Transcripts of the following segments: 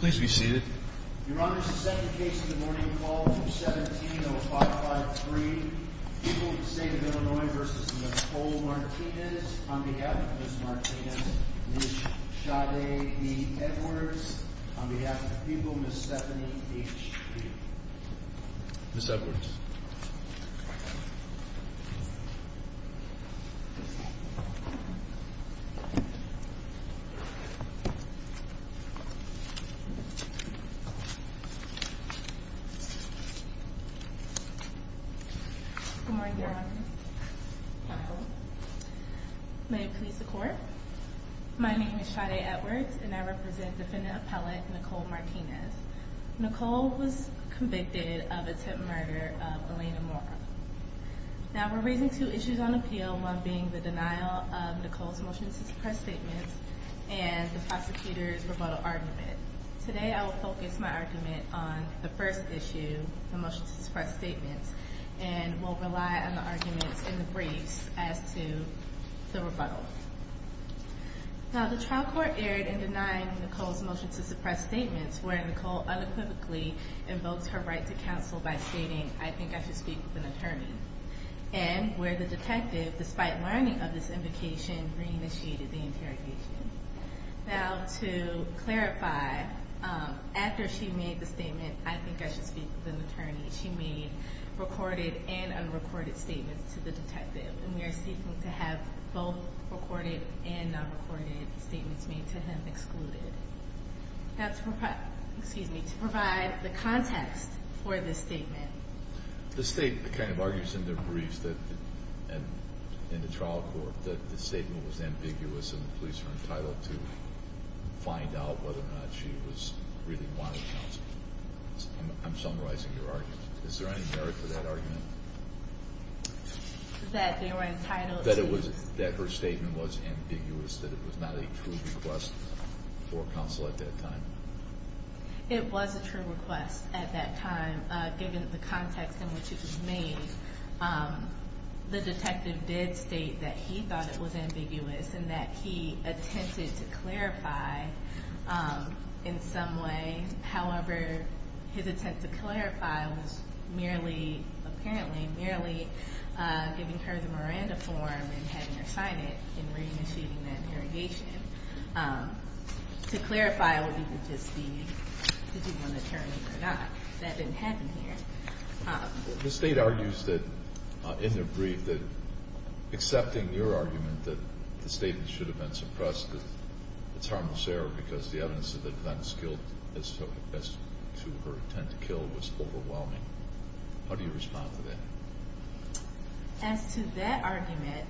Please be seated. Your Honor, this is the second case of the morning. Call 217-0553. People of the State of Illinois v. Nicole Martinez On behalf of Ms. Martinez, Ms. Shade E. Edwards On behalf of the people, Ms. Stephanie H. Kee Ms. Edwards Good morning, Your Honor. May it please the Court. My name is Shade Edwards, and I represent Defendant Appellate Nicole Martinez. Nicole was convicted of attempted murder of Elena Mora. Now, we're raising two issues on appeal, one being the denial of Nicole's motion to suppress statements and the prosecutor's rebuttal argument. Today, I will focus my argument on the first issue, the motion to suppress statements, and will rely on the arguments in the briefs as to the rebuttal. Now, the trial court erred in denying Nicole's motion to suppress statements, where Nicole unequivocally invokes her right to counsel by stating, I think I should speak with an attorney, and where the detective, despite learning of this invocation, re-initiated the interrogation. Now, to clarify, after she made the statement, I think I should speak with an attorney, she made recorded and unrecorded statements to the detective, and we are seeking to have both recorded and non-recorded statements made to him excluded. Now, to provide the context for this statement. The State kind of argues in their briefs in the trial court that the statement was ambiguous and the police were entitled to find out whether or not she really wanted counsel. I'm summarizing your argument. Is there any merit to that argument? That they were entitled to? That her statement was ambiguous, that it was not a true request for counsel at that time. It was a true request at that time, given the context in which it was made. The detective did state that he thought it was ambiguous and that he attempted to clarify in some way. However, his attempt to clarify was merely, apparently, merely giving her the Miranda form and having her sign it and re-initiating that interrogation to clarify what he would just be. Did you want an attorney or not? That didn't happen here. The State argues that, in their brief, that accepting your argument that the statement should have been suppressed, that it's harmless error because the evidence of the events killed as to her attempt to kill was overwhelming. How do you respond to that? As to that argument,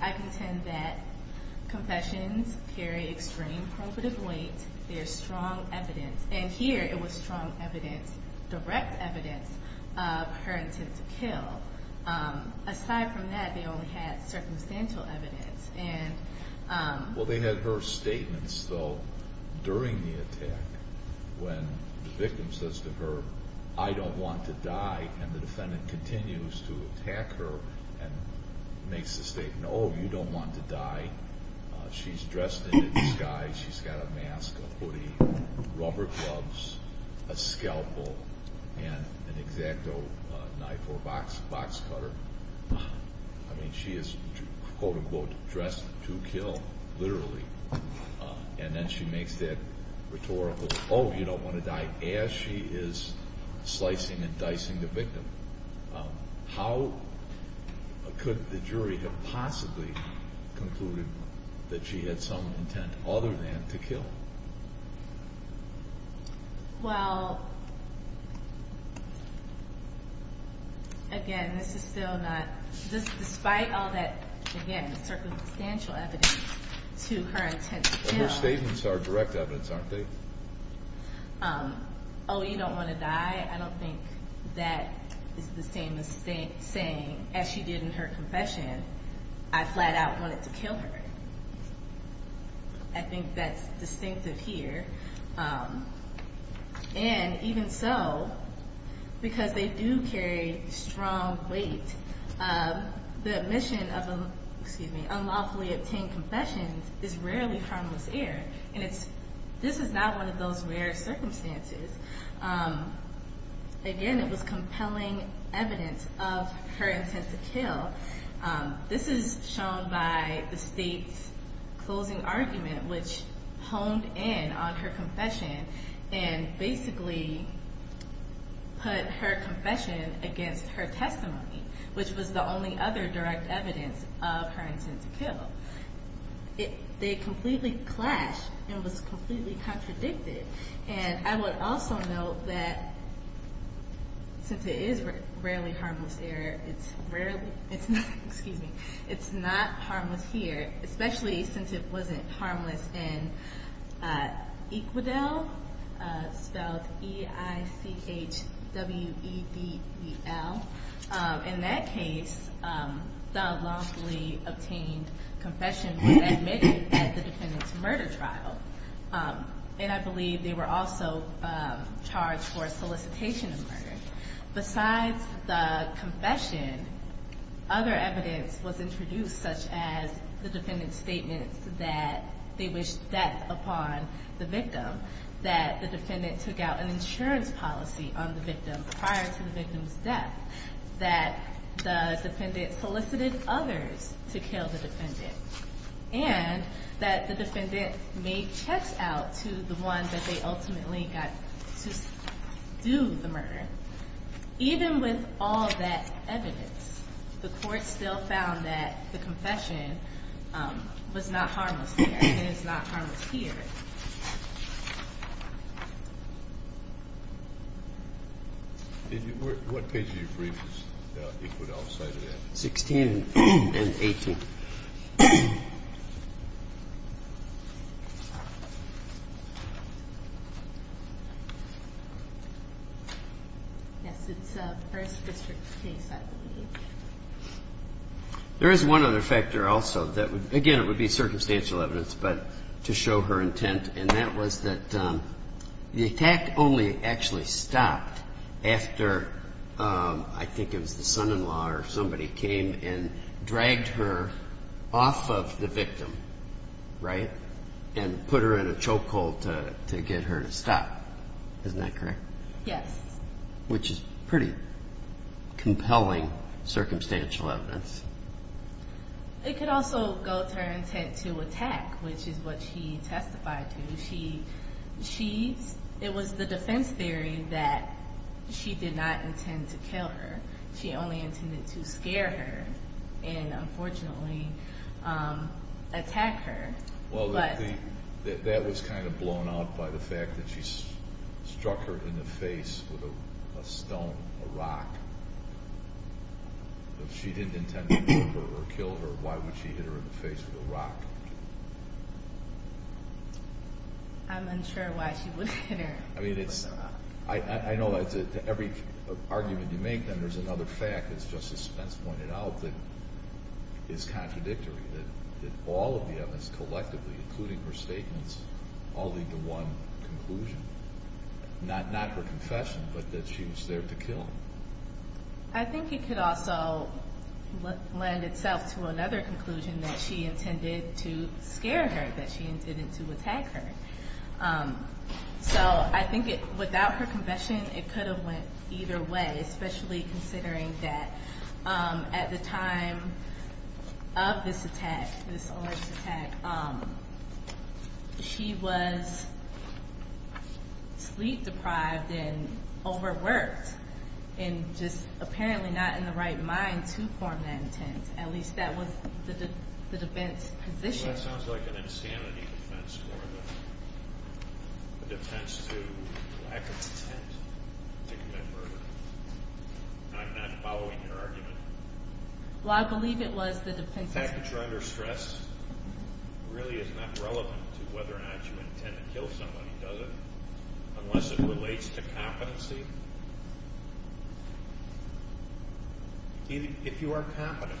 I contend that confessions carry extreme probative weight. There's strong evidence. And here, it was strong evidence, direct evidence of her attempt to kill. Aside from that, they only had circumstantial evidence. Well, they had her statements, though, during the attack when the victim says to her, I don't want to die, and the defendant continues to attack her and makes the statement, oh, you don't want to die. She's dressed in disguise. She's got a mask, a hoodie, rubber gloves, a scalpel, and an X-Acto knife or a box cutter. I mean, she is, quote-unquote, dressed to kill, literally. And then she makes that rhetorical, oh, you don't want to die, as she is slicing and dicing the victim. How could the jury have possibly concluded that she had some intent other than to kill? Well, again, this is still not, despite all that, again, circumstantial evidence to her intent to kill. Her statements are direct evidence, aren't they? Oh, you don't want to die, I don't think that is the same as saying, as she did in her confession, I flat out wanted to kill her. I think that's distinctive here. And even so, because they do carry strong weight, the admission of unlawfully obtained confessions is rarely harmless error. And this is not one of those rare circumstances. Again, it was compelling evidence of her intent to kill. This is shown by the state's closing argument, which honed in on her confession, and basically put her confession against her testimony, which was the only other direct evidence of her intent to kill. They completely clashed, and it was completely contradicted. And I would also note that since it is rarely harmless error, it's not harmless here, especially since it wasn't harmless in EQUIDEL, spelled E-I-C-H-W-E-D-E-L. In that case, the unlawfully obtained confession was admitted at the defendant's murder trial. And I believe they were also charged for solicitation of murder. Besides the confession, other evidence was introduced, such as the defendant's statement that they wished death upon the victim, that the defendant took out an insurance policy on the victim prior to the victim's death, that the defendant solicited others to kill the defendant, and that the defendant made checks out to the one that they ultimately got to do the murder. Even with all that evidence, the court still found that the confession was not harmless there and is not harmless here. What page of your brief is EQUIDEL cited at? 16 and 18. Yes, it's the first district case, I believe. There is one other factor also that would, again, it would be circumstantial evidence, but to show her intent, and that was that the attack only actually stopped after I think it was the son-in-law or somebody came and dragged her off of the victim, right, and put her in a chokehold to get her to stop. Isn't that correct? Yes. Which is pretty compelling circumstantial evidence. It could also go to her intent to attack, which is what she testified to. It was the defense theory that she did not intend to kill her. She only intended to scare her and, unfortunately, attack her. Well, that was kind of blown out by the fact that she struck her in the face with a stone, a rock. If she didn't intend to kill her, why would she hit her in the face with a rock? I'm unsure why she would hit her with a rock. I know that to every argument you make, then, there's another fact, as Justice Spence pointed out, that is contradictory, that all of the evidence collectively, including her statements, all lead to one conclusion, not her confession, but that she was there to kill him. I think it could also lend itself to another conclusion, that she intended to scare her, that she intended to attack her. So I think without her confession, it could have went either way, especially considering that at the time of this attack, this alert attack, she was sleep-deprived and overworked and just apparently not in the right mind to form that intent. At least that was the defense position. Well, that sounds like an insanity defense more than a defense to lack of intent to commit murder. I'm not following your argument. Well, I believe it was the defense... The fact that you're under stress really is not relevant to whether or not you intend to kill somebody, does it? Unless it relates to competency. If you are competent,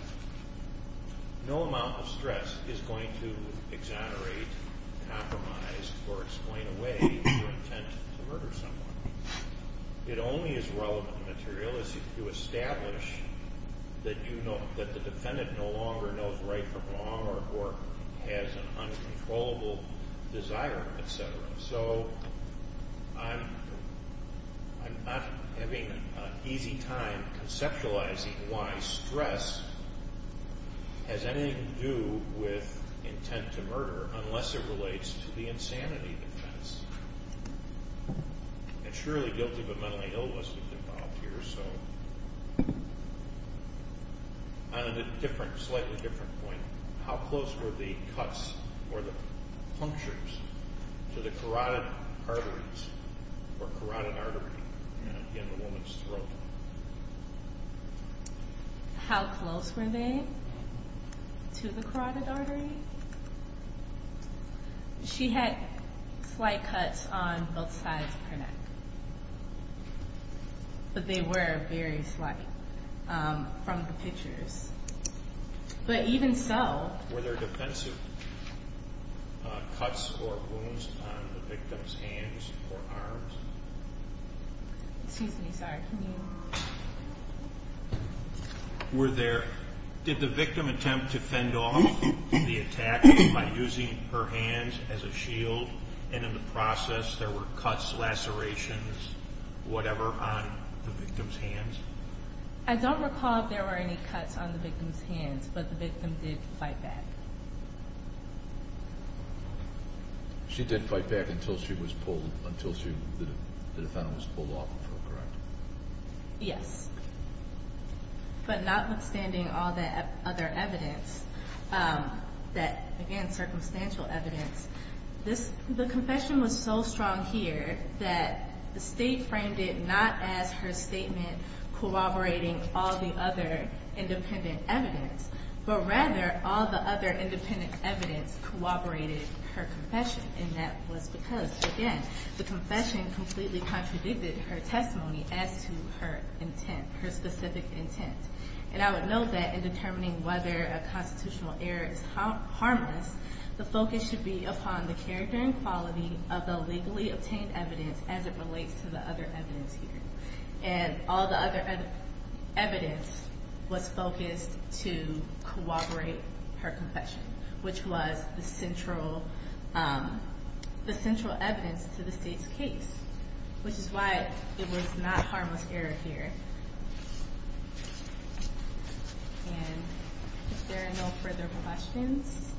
no amount of stress is going to exonerate, compromise, or explain away your intent to murder someone. It only is relevant material if you establish that the defendant no longer knows right from wrong or has an uncontrollable desire, et cetera. So I'm not having an easy time conceptualizing why stress has anything to do with intent to murder unless it relates to the insanity defense. And surely guilty but mentally ill wasn't involved here, so... On a slightly different point, how close were the cuts or the punctures to the carotid arteries or carotid artery in the woman's throat? How close were they to the carotid artery? She had slight cuts on both sides of her neck. But they were very slight from the pictures. But even so... Were there defensive cuts or wounds on the victim's hands or arms? Excuse me, sorry, can you... Were there... Did the victim attempt to fend off the attack by using her hands as a shield and in the process there were cuts, lacerations, whatever, on the victim's hands? I don't recall if there were any cuts on the victim's hands, but the victim did fight back. She did fight back until the defendant was pulled off of her, correct? Yes. But notwithstanding all that other evidence, that, again, circumstantial evidence, the confession was so strong here that the State framed it not as her statement corroborating all the other independent evidence, but rather all the other independent evidence corroborated her confession, and that was because, again, the confession completely contradicted her testimony as to her intent, her specific intent. And I would note that in determining whether a constitutional error is harmless, the focus should be upon the character and quality of the legally obtained evidence as it relates to the other evidence here. And all the other evidence was focused to corroborate her confession, which was the central evidence to the State's case, which is why it was not harmless error here. And if there are no further questions?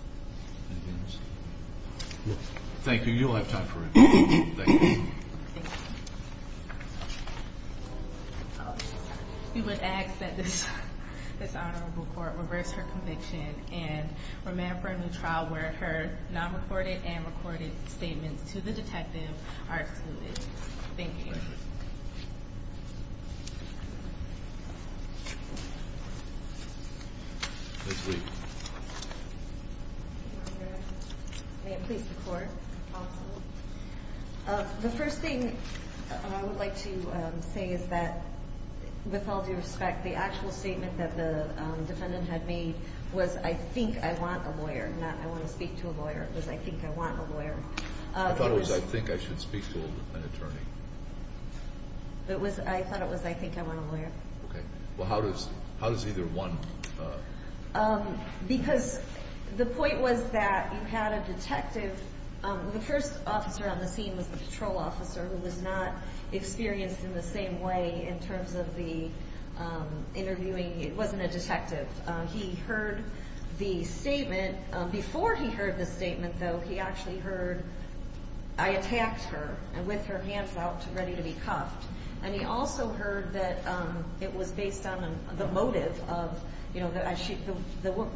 Anything else? No. Thank you. You'll have time for another one. Thank you. Thank you. We would ask that this Honorable Court reverse her conviction and remand for a new trial where her non-recorded and recorded statements to the detective are excluded. Thank you. Thank you. Ms. Lee. May it please the Court? Absolutely. The first thing I would like to say is that, with all due respect, the actual statement that the defendant had made was, I think I want a lawyer, not I want to speak to a lawyer. It was, I think I want a lawyer. It was, I thought it was, I think I want a lawyer. Okay. Well, how does either one? Because the point was that you had a detective. The first officer on the scene was a patrol officer who was not experienced in the same way in terms of the interviewing. It wasn't a detective. He heard the statement. Before he heard the statement, though, he actually heard, I attacked her with her hands out ready to be cuffed. And he also heard that it was based on the motive of, you know,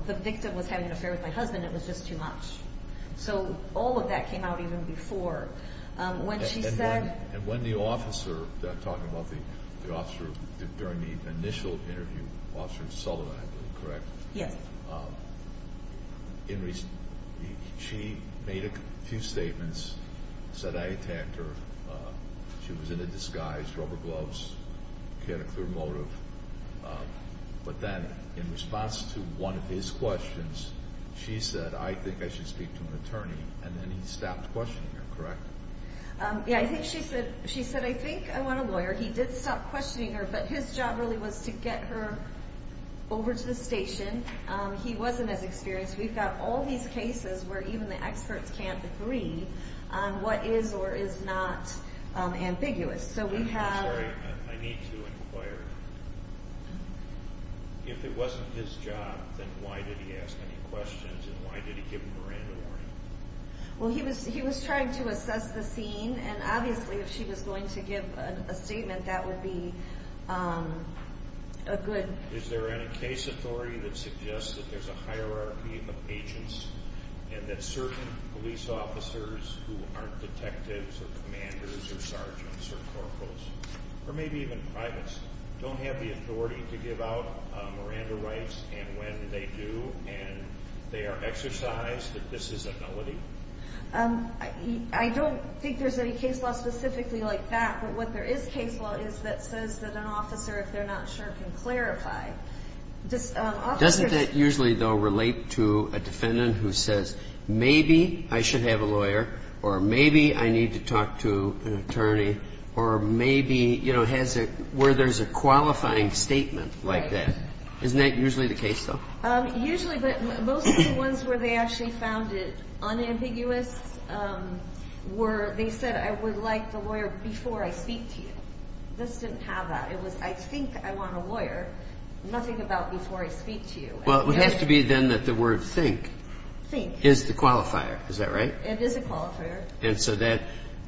the victim was having an affair with my husband. It was just too much. So all of that came out even before. And when the officer, talking about the officer during the initial interview, Officer Sullivan, I believe, correct? Yes. She made a few statements, said I attacked her. She was in a disguise, rubber gloves. She had a clear motive. But then in response to one of his questions, she said, I think I should speak to an attorney. And then he stopped questioning her, correct? Yeah. I think she said, I think I want a lawyer. He did stop questioning her. But his job really was to get her over to the station. He wasn't as experienced. We've got all these cases where even the experts can't agree on what is or is not ambiguous. So we have. I'm sorry. I need to inquire. If it wasn't his job, then why did he ask any questions and why did he give him a random warning? Well, he was trying to assess the scene. And obviously, if she was going to give a statement, that would be a good. Is there any case authority that suggests that there's a hierarchy of agents and that certain police officers who aren't detectives or commanders or sergeants or corporals, or maybe even privates, don't have the authority to give out Miranda rights? And when they do and they are exercised, that this is a nullity? I don't think there's any case law specifically like that. But what there is case law is that says that an officer, if they're not sure, can clarify. Doesn't that usually, though, relate to a defendant who says, maybe I should have a lawyer, or maybe I need to talk to an attorney, or maybe, you know, where there's a qualifying statement like that? Isn't that usually the case, though? Usually, but most of the ones where they actually found it unambiguous were they said, I would like the lawyer before I speak to you. This didn't have that. It was, I think I want a lawyer, nothing about before I speak to you. Well, it would have to be then that the word think is the qualifier. Is that right? It is a qualifier. And so that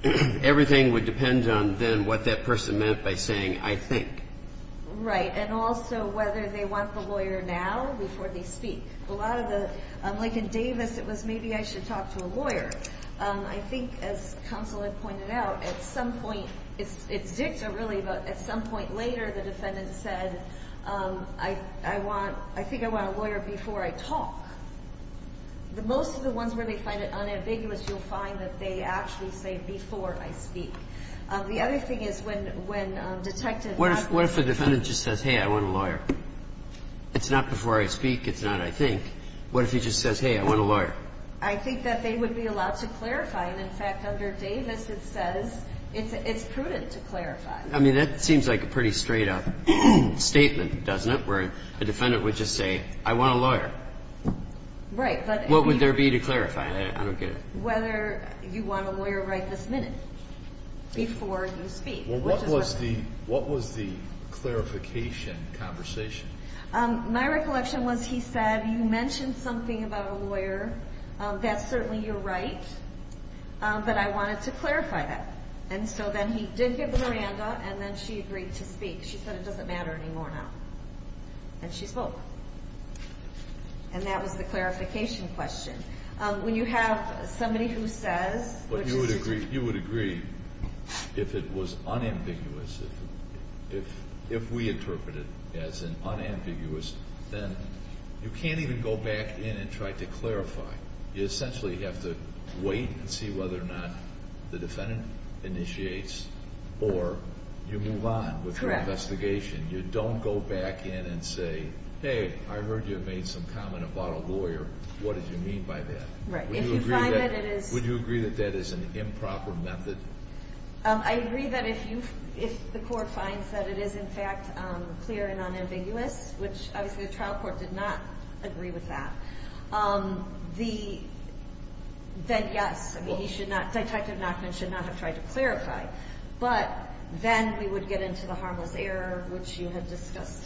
everything would depend on then what that person meant by saying, I think. Right. And also whether they want the lawyer now before they speak. A lot of the, like in Davis, it was maybe I should talk to a lawyer. I think, as counsel had pointed out, at some point, it's dicta really, but at some point later, the defendant said, I want, I think I want a lawyer before I talk. Most of the ones where they find it unambiguous, you'll find that they actually say before I speak. The other thing is when detectives. What if the defendant just says, hey, I want a lawyer? It's not before I speak. It's not, I think. What if he just says, hey, I want a lawyer? I think that they would be allowed to clarify. And in fact, under Davis, it says it's prudent to clarify. I mean, that seems like a pretty straight up statement, doesn't it? Where a defendant would just say, I want a lawyer. Right. What would there be to clarify? I don't get it. Whether you want a lawyer right this minute. Before you speak. Well, what was the, what was the clarification conversation? My recollection was he said, you mentioned something about a lawyer. That's certainly your right. But I wanted to clarify that. And so then he did give the Miranda, and then she agreed to speak. She said, it doesn't matter anymore now. And she spoke. And that was the clarification question. When you have somebody who says. But you would agree, you would agree, if it was unambiguous, if we interpret it as an unambiguous, then you can't even go back in and try to clarify. You essentially have to wait and see whether or not the defendant initiates. Or you move on with the investigation. You don't go back in and say, hey, I heard you made some comment about a lawyer. What did you mean by that? Right. If you find that it is. Would you agree that that is an improper method? I agree that if you, if the court finds that it is in fact clear and unambiguous, which obviously the trial court did not agree with that. The, that yes. I mean, he should not, Detective Nachman should not have tried to clarify. But then we would get into the harmless error, which you had discussed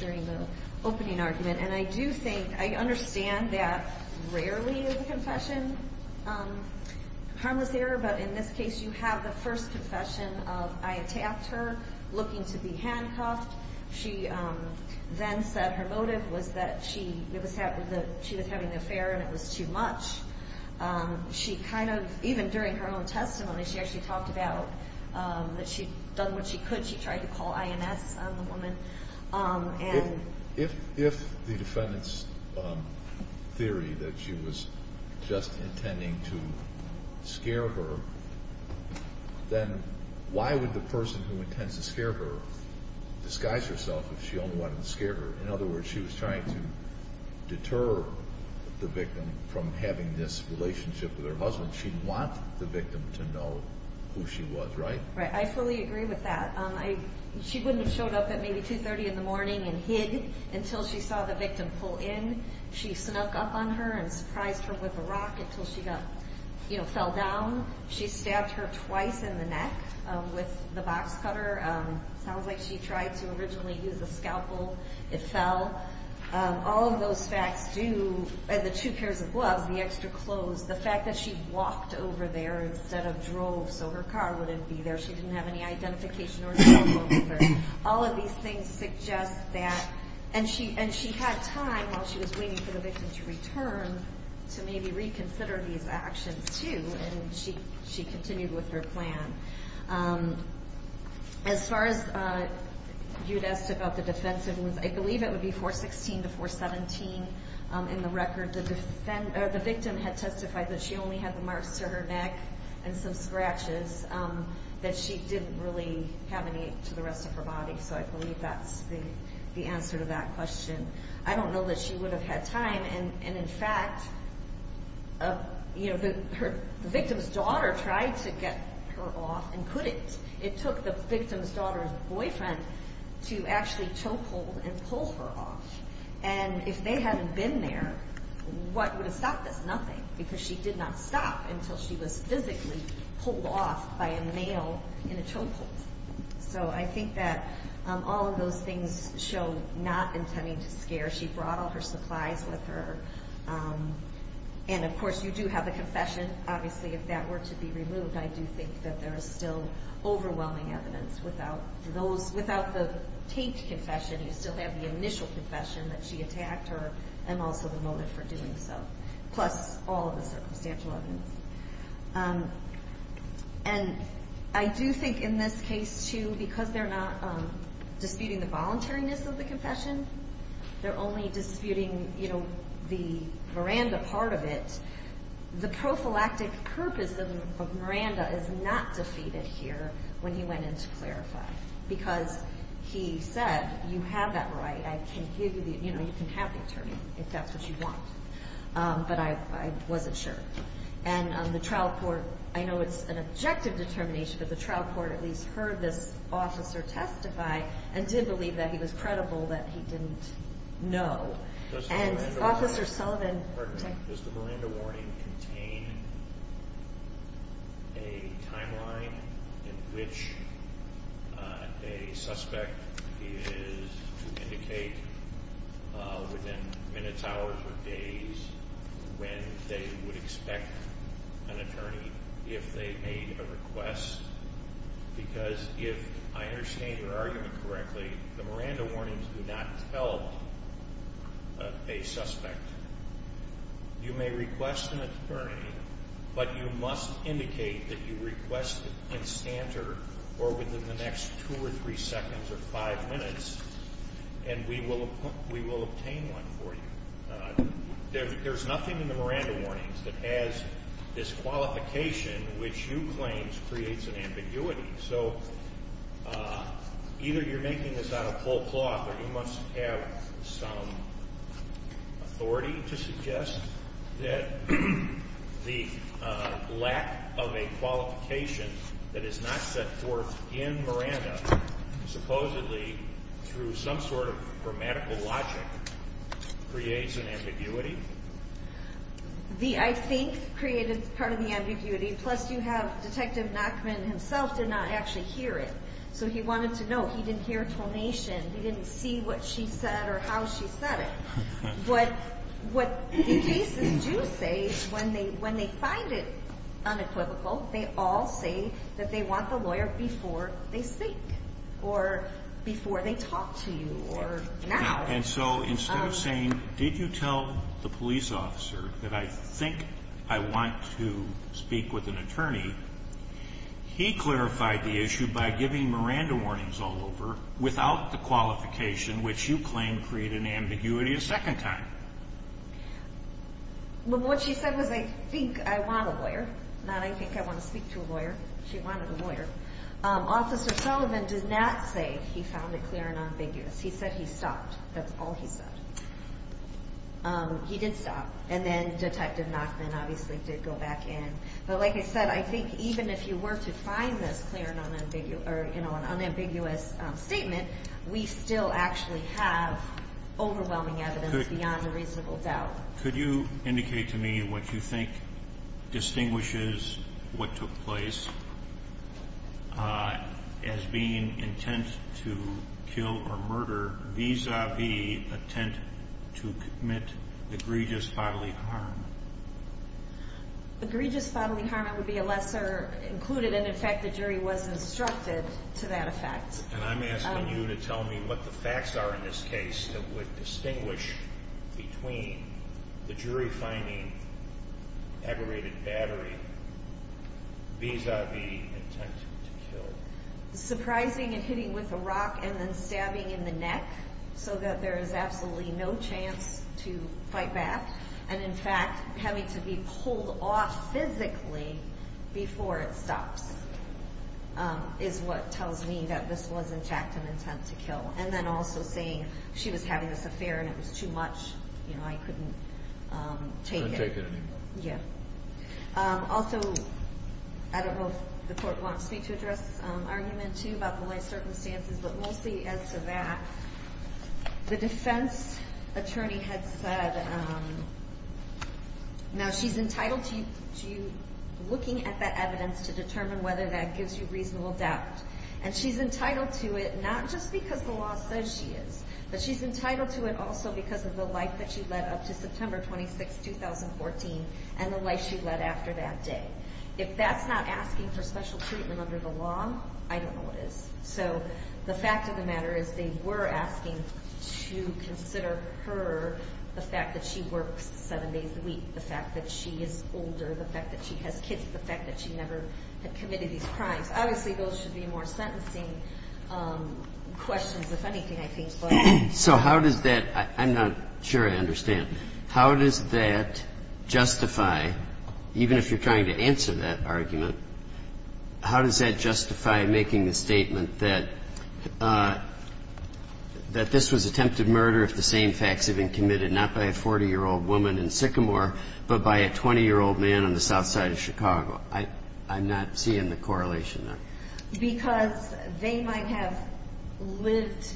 during the opening argument. And I do think, I understand that rarely is a confession harmless error. But in this case, you have the first confession of I attacked her looking to be handcuffed. She then said her motive was that she was having an affair and it was too much. She kind of, even during her own testimony, she actually talked about that she had done what she could. She tried to call INS on the woman. If the defendant's theory that she was just intending to scare her, then why would the person who intends to scare her disguise herself if she only wanted to scare her? In other words, she was trying to deter the victim from having this relationship with her husband. She'd want the victim to know who she was, right? Right. I fully agree with that. She wouldn't have showed up at maybe 2.30 in the morning and hid until she saw the victim pull in. She snuck up on her and surprised her with a rock until she fell down. She stabbed her twice in the neck with the box cutter. Sounds like she tried to originally use a scalpel. It fell. All of those facts do, and the two pairs of gloves, the extra clothes, the fact that she walked over there instead of drove so her car wouldn't be there. She didn't have any identification or cell phone with her. All of these things suggest that, and she had time while she was waiting for the victim to return to maybe reconsider these actions too, and she continued with her plan. As far as you'd ask about the defensiveness, I believe it would be 416 to 417 in the record. The victim had testified that she only had the marks to her neck and some scratches, that she didn't really have any to the rest of her body, so I believe that's the answer to that question. I don't know that she would have had time. In fact, the victim's daughter tried to get her off and couldn't. It took the victim's daughter's boyfriend to actually toehold and pull her off. If they hadn't been there, what would have stopped this? Nothing, because she did not stop until she was physically pulled off by a male in a toehold. I think that all of those things show not intending to scare. She brought all her supplies with her, and of course, you do have a confession. Obviously, if that were to be removed, I do think that there is still overwhelming evidence. Without the taped confession, you still have the initial confession that she attacked her and also the motive for doing so, plus all of the circumstantial evidence. I do think in this case, too, because they're not disputing the voluntariness of the confession, they're only disputing the Miranda part of it, the prophylactic purpose of Miranda is not defeated here when he went in to clarify. Because he said, you have that right. You can have the attorney if that's what you want. But I wasn't sure. And the trial court, I know it's an objective determination, but the trial court at least heard this officer testify and did believe that he was credible that he didn't know. Does the Miranda warning contain a timeline in which a suspect is to indicate within minutes, hours, or days when they would expect an attorney if they made a request? Because if I understand your argument correctly, the Miranda warnings do not tell a suspect. You may request an attorney, but you must indicate that you request an instanter or within the next two or three seconds or five minutes, and we will obtain one for you. There's nothing in the Miranda warnings that has this qualification which you claim creates an ambiguity. So either you're making this out of full cloth, or you must have some authority to suggest that the lack of a qualification that is not set forth in Miranda, supposedly through some sort of grammatical logic, creates an ambiguity? The I think created part of the ambiguity, plus you have Detective Nachman himself did not actually hear it, so he wanted to know. He didn't hear a tonation. He didn't see what she said or how she said it. What the cases do say is when they find it unequivocal, they all say that they want the lawyer before they speak or before they talk to you or now. And so instead of saying, did you tell the police officer that I think I want to speak with an attorney, he clarified the issue by giving Miranda warnings all over without the qualification which you claim created an ambiguity a second time. What she said was I think I want a lawyer, not I think I want to speak to a lawyer. She wanted a lawyer. Officer Sullivan did not say he found it clear and unambiguous. He said he stopped. That's all he said. He did stop, and then Detective Nachman obviously did go back in. But like I said, I think even if you were to find this clear and unambiguous statement, we still actually have overwhelming evidence beyond a reasonable doubt. Could you indicate to me what you think distinguishes what took place as being intent to kill or murder vis-a-vis intent to commit egregious bodily harm? Egregious bodily harm would be a lesser included, and in fact the jury was instructed to that effect. And I'm asking you to tell me what the facts are in this case that would distinguish between the jury finding aggravated battery vis-a-vis intent to kill. Surprising and hitting with a rock and then stabbing in the neck so that there is absolutely no chance to fight back, and in fact having to be pulled off physically before it stops is what tells me that this was in fact an intent to kill. And then also saying she was having this affair and it was too much, you know, I couldn't take it. Couldn't take it anymore. Yeah. Also, I don't know if the court wants me to address argument two about the life circumstances, but mostly as to that, the defense attorney had said, now she's entitled to you looking at that evidence to determine whether that gives you reasonable doubt. And she's entitled to it not just because the law says she is, but she's entitled to it also because of the life that she led up to September 26, 2014, and the life she led after that day. If that's not asking for special treatment under the law, I don't know what is. So the fact of the matter is they were asking to consider her the fact that she works seven days a week, the fact that she is older, the fact that she has kids, the fact that she never had committed these crimes. Obviously, those should be more sentencing questions, if anything, I think. So how does that ‑‑ I'm not sure I understand. How does that justify, even if you're trying to answer that argument, how does that justify making the statement that this was attempted murder if the same facts had been committed, not by a 40‑year‑old woman in Sycamore, but by a 20‑year‑old man on the south side of Chicago? I'm not seeing the correlation there. Because they might have lived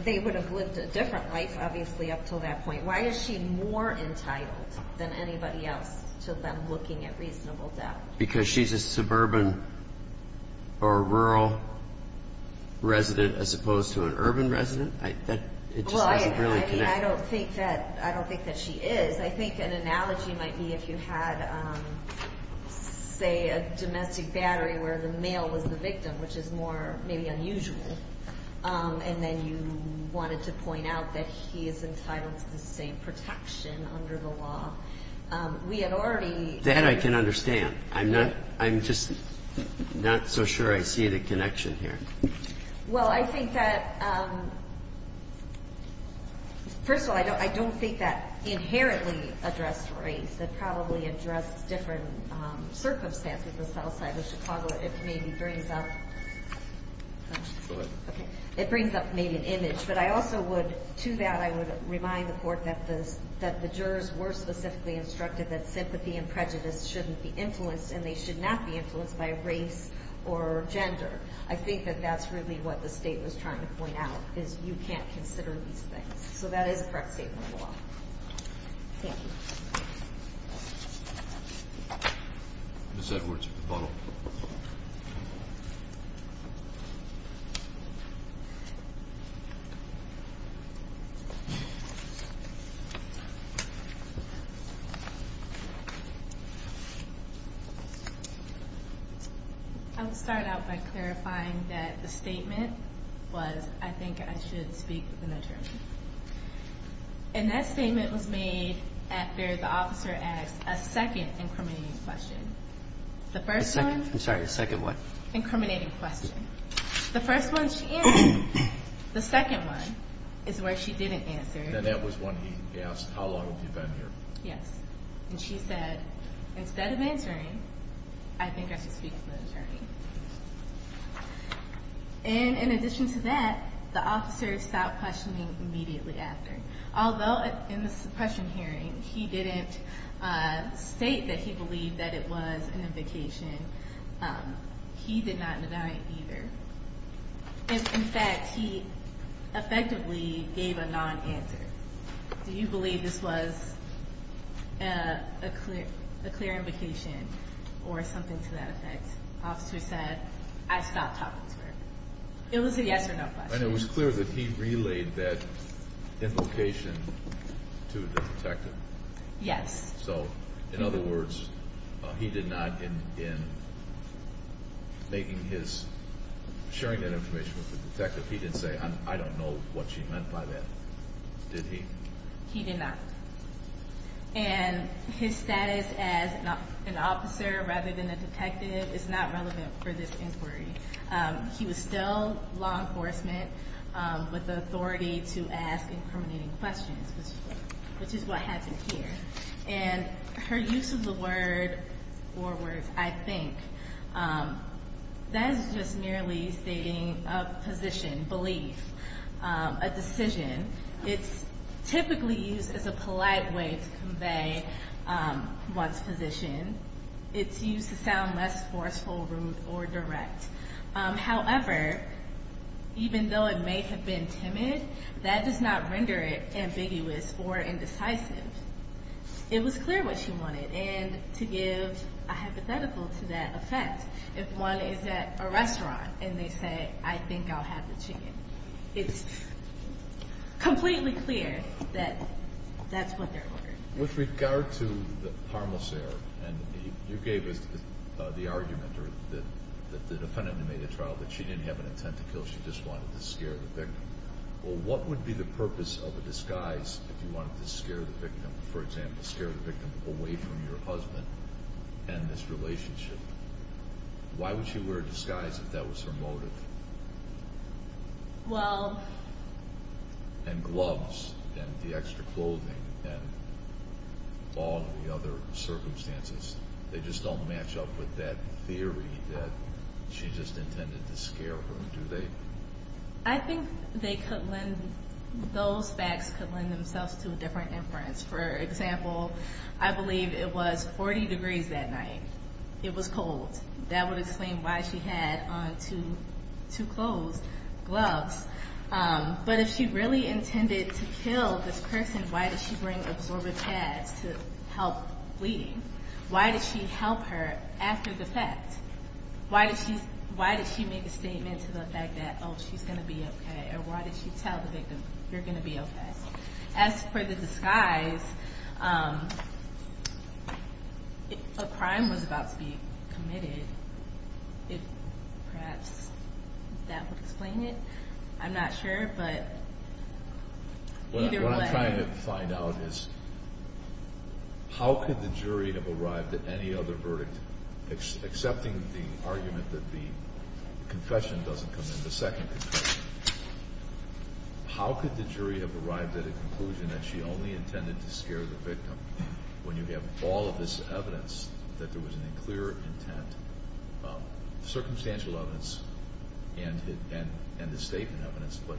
‑‑ they would have lived a different life, obviously, up until that point. Why is she more entitled than anybody else to them looking at reasonable doubt? Because she's a suburban or rural resident as opposed to an urban resident? It just doesn't really connect. I don't think that she is. I think an analogy might be if you had, say, a domestic battery where the male was the victim, which is more maybe unusual, and then you wanted to point out that he is entitled to the same protection under the law. We had already ‑‑ That I can understand. I'm just not so sure I see the connection here. Well, I think that ‑‑ first of all, I don't think that inherently addressed race. It probably addressed different circumstances on the south side of Chicago. But I also would ‑‑ to that, I would remind the court that the jurors were specifically instructed that sympathy and prejudice shouldn't be influenced and they should not be influenced by race or gender. I think that that's really what the state was trying to point out, is you can't consider these things. So that is a correct statement of law. Ms. Edwards at the bottom. I would start out by clarifying that the statement was, I think I should speak with an attorney. And that statement was made after the officer asked a second incriminating question. The first one ‑‑ The second. I'm sorry, the second what? Incriminating question. The second one, she answered. The third one is where she didn't answer. And that was when he asked, how long have you been here? Yes. And she said, instead of answering, I think I should speak with an attorney. And in addition to that, the officer stopped questioning immediately after. Although in the suppression hearing, he didn't state that he believed that it was an invocation, he did not deny it either. In fact, he effectively gave a non‑answer. Do you believe this was a clear invocation or something to that effect? The officer said, I stopped talking to her. It was a yes or no question. And it was clear that he relayed that invocation to the detective. Yes. So, in other words, he did not, in sharing that information with the detective, he didn't say, I don't know what she meant by that, did he? He did not. And his status as an officer rather than a detective is not relevant for this inquiry. He was still law enforcement with the authority to ask incriminating questions, which is what happened here. And her use of the word forward, I think, that is just merely stating a position, belief, a decision. It's typically used as a polite way to convey one's position. It's used to sound less forceful, rude, or direct. However, even though it may have been timid, that does not render it ambiguous or indecisive. It was clear what she wanted. And to give a hypothetical to that effect, if one is at a restaurant and they say, I think I'll have the chicken, it's completely clear that that's what they're ordering. With regard to the parmoseur, and you gave us the argument that the defendant made a trial that she didn't have an intent to kill, she just wanted to scare the victim. Well, what would be the purpose of a disguise if you wanted to scare the victim, for example, scare the victim away from your husband and this relationship? Why would she wear a disguise if that was her motive? Well... And gloves and the extra clothing and all of the other circumstances, they just don't match up with that theory that she just intended to scare her, do they? I think those facts could lend themselves to a different inference. For example, I believe it was 40 degrees that night. It was cold. That would explain why she had on two clothes, gloves. But if she really intended to kill this person, why did she bring absorbent pads to help bleed? Why did she help her after the fact? Why did she make a statement to the effect that, oh, she's going to be okay? Or why did she tell the victim, you're going to be okay? As for the disguise, a crime was about to be committed. Perhaps that would explain it. I'm not sure, but either way. What I'm trying to find out is how could the jury have arrived at any other verdict, excepting the argument that the confession doesn't come in, the second confession? How could the jury have arrived at a conclusion that she only intended to scare the victim, when you have all of this evidence that there was a clear intent, circumstantial evidence and the statement evidence, but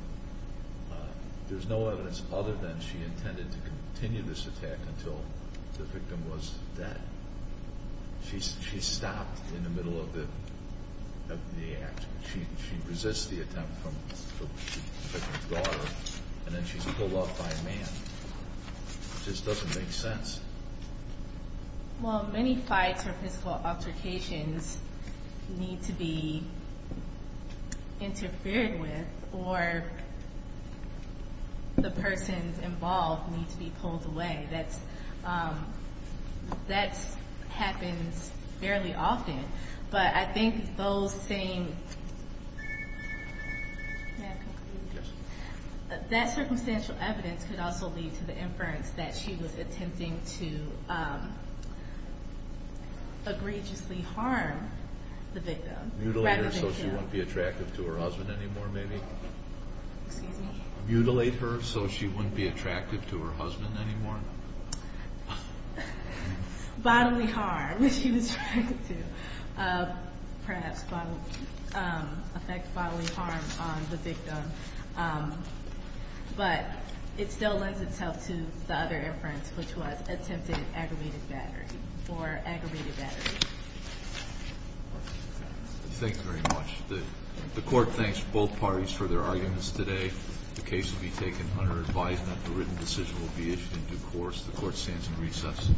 there's no evidence other than she intended to continue this attack until the victim was dead. She stopped in the middle of the action. She resists the attempt from the victim's daughter, and then she's pulled off by a man. It just doesn't make sense. Well, many fights or physical altercations need to be interfered with, or the persons involved need to be pulled away. That happens fairly often. But I think that circumstantial evidence could also lead to the inference that she was attempting to egregiously harm the victim. Mutilate her so she wouldn't be attractive to her husband anymore, maybe? Excuse me? Mutilate her so she wouldn't be attractive to her husband anymore? Bodily harm, which she was trying to perhaps affect bodily harm on the victim. But it still lends itself to the other inference, which was attempted aggravated battery, or aggravated battery. Thank you very much. The Court thanks both parties for their arguments today. The case will be taken under advisement. A written decision will be issued in due course. The Court stands in recess.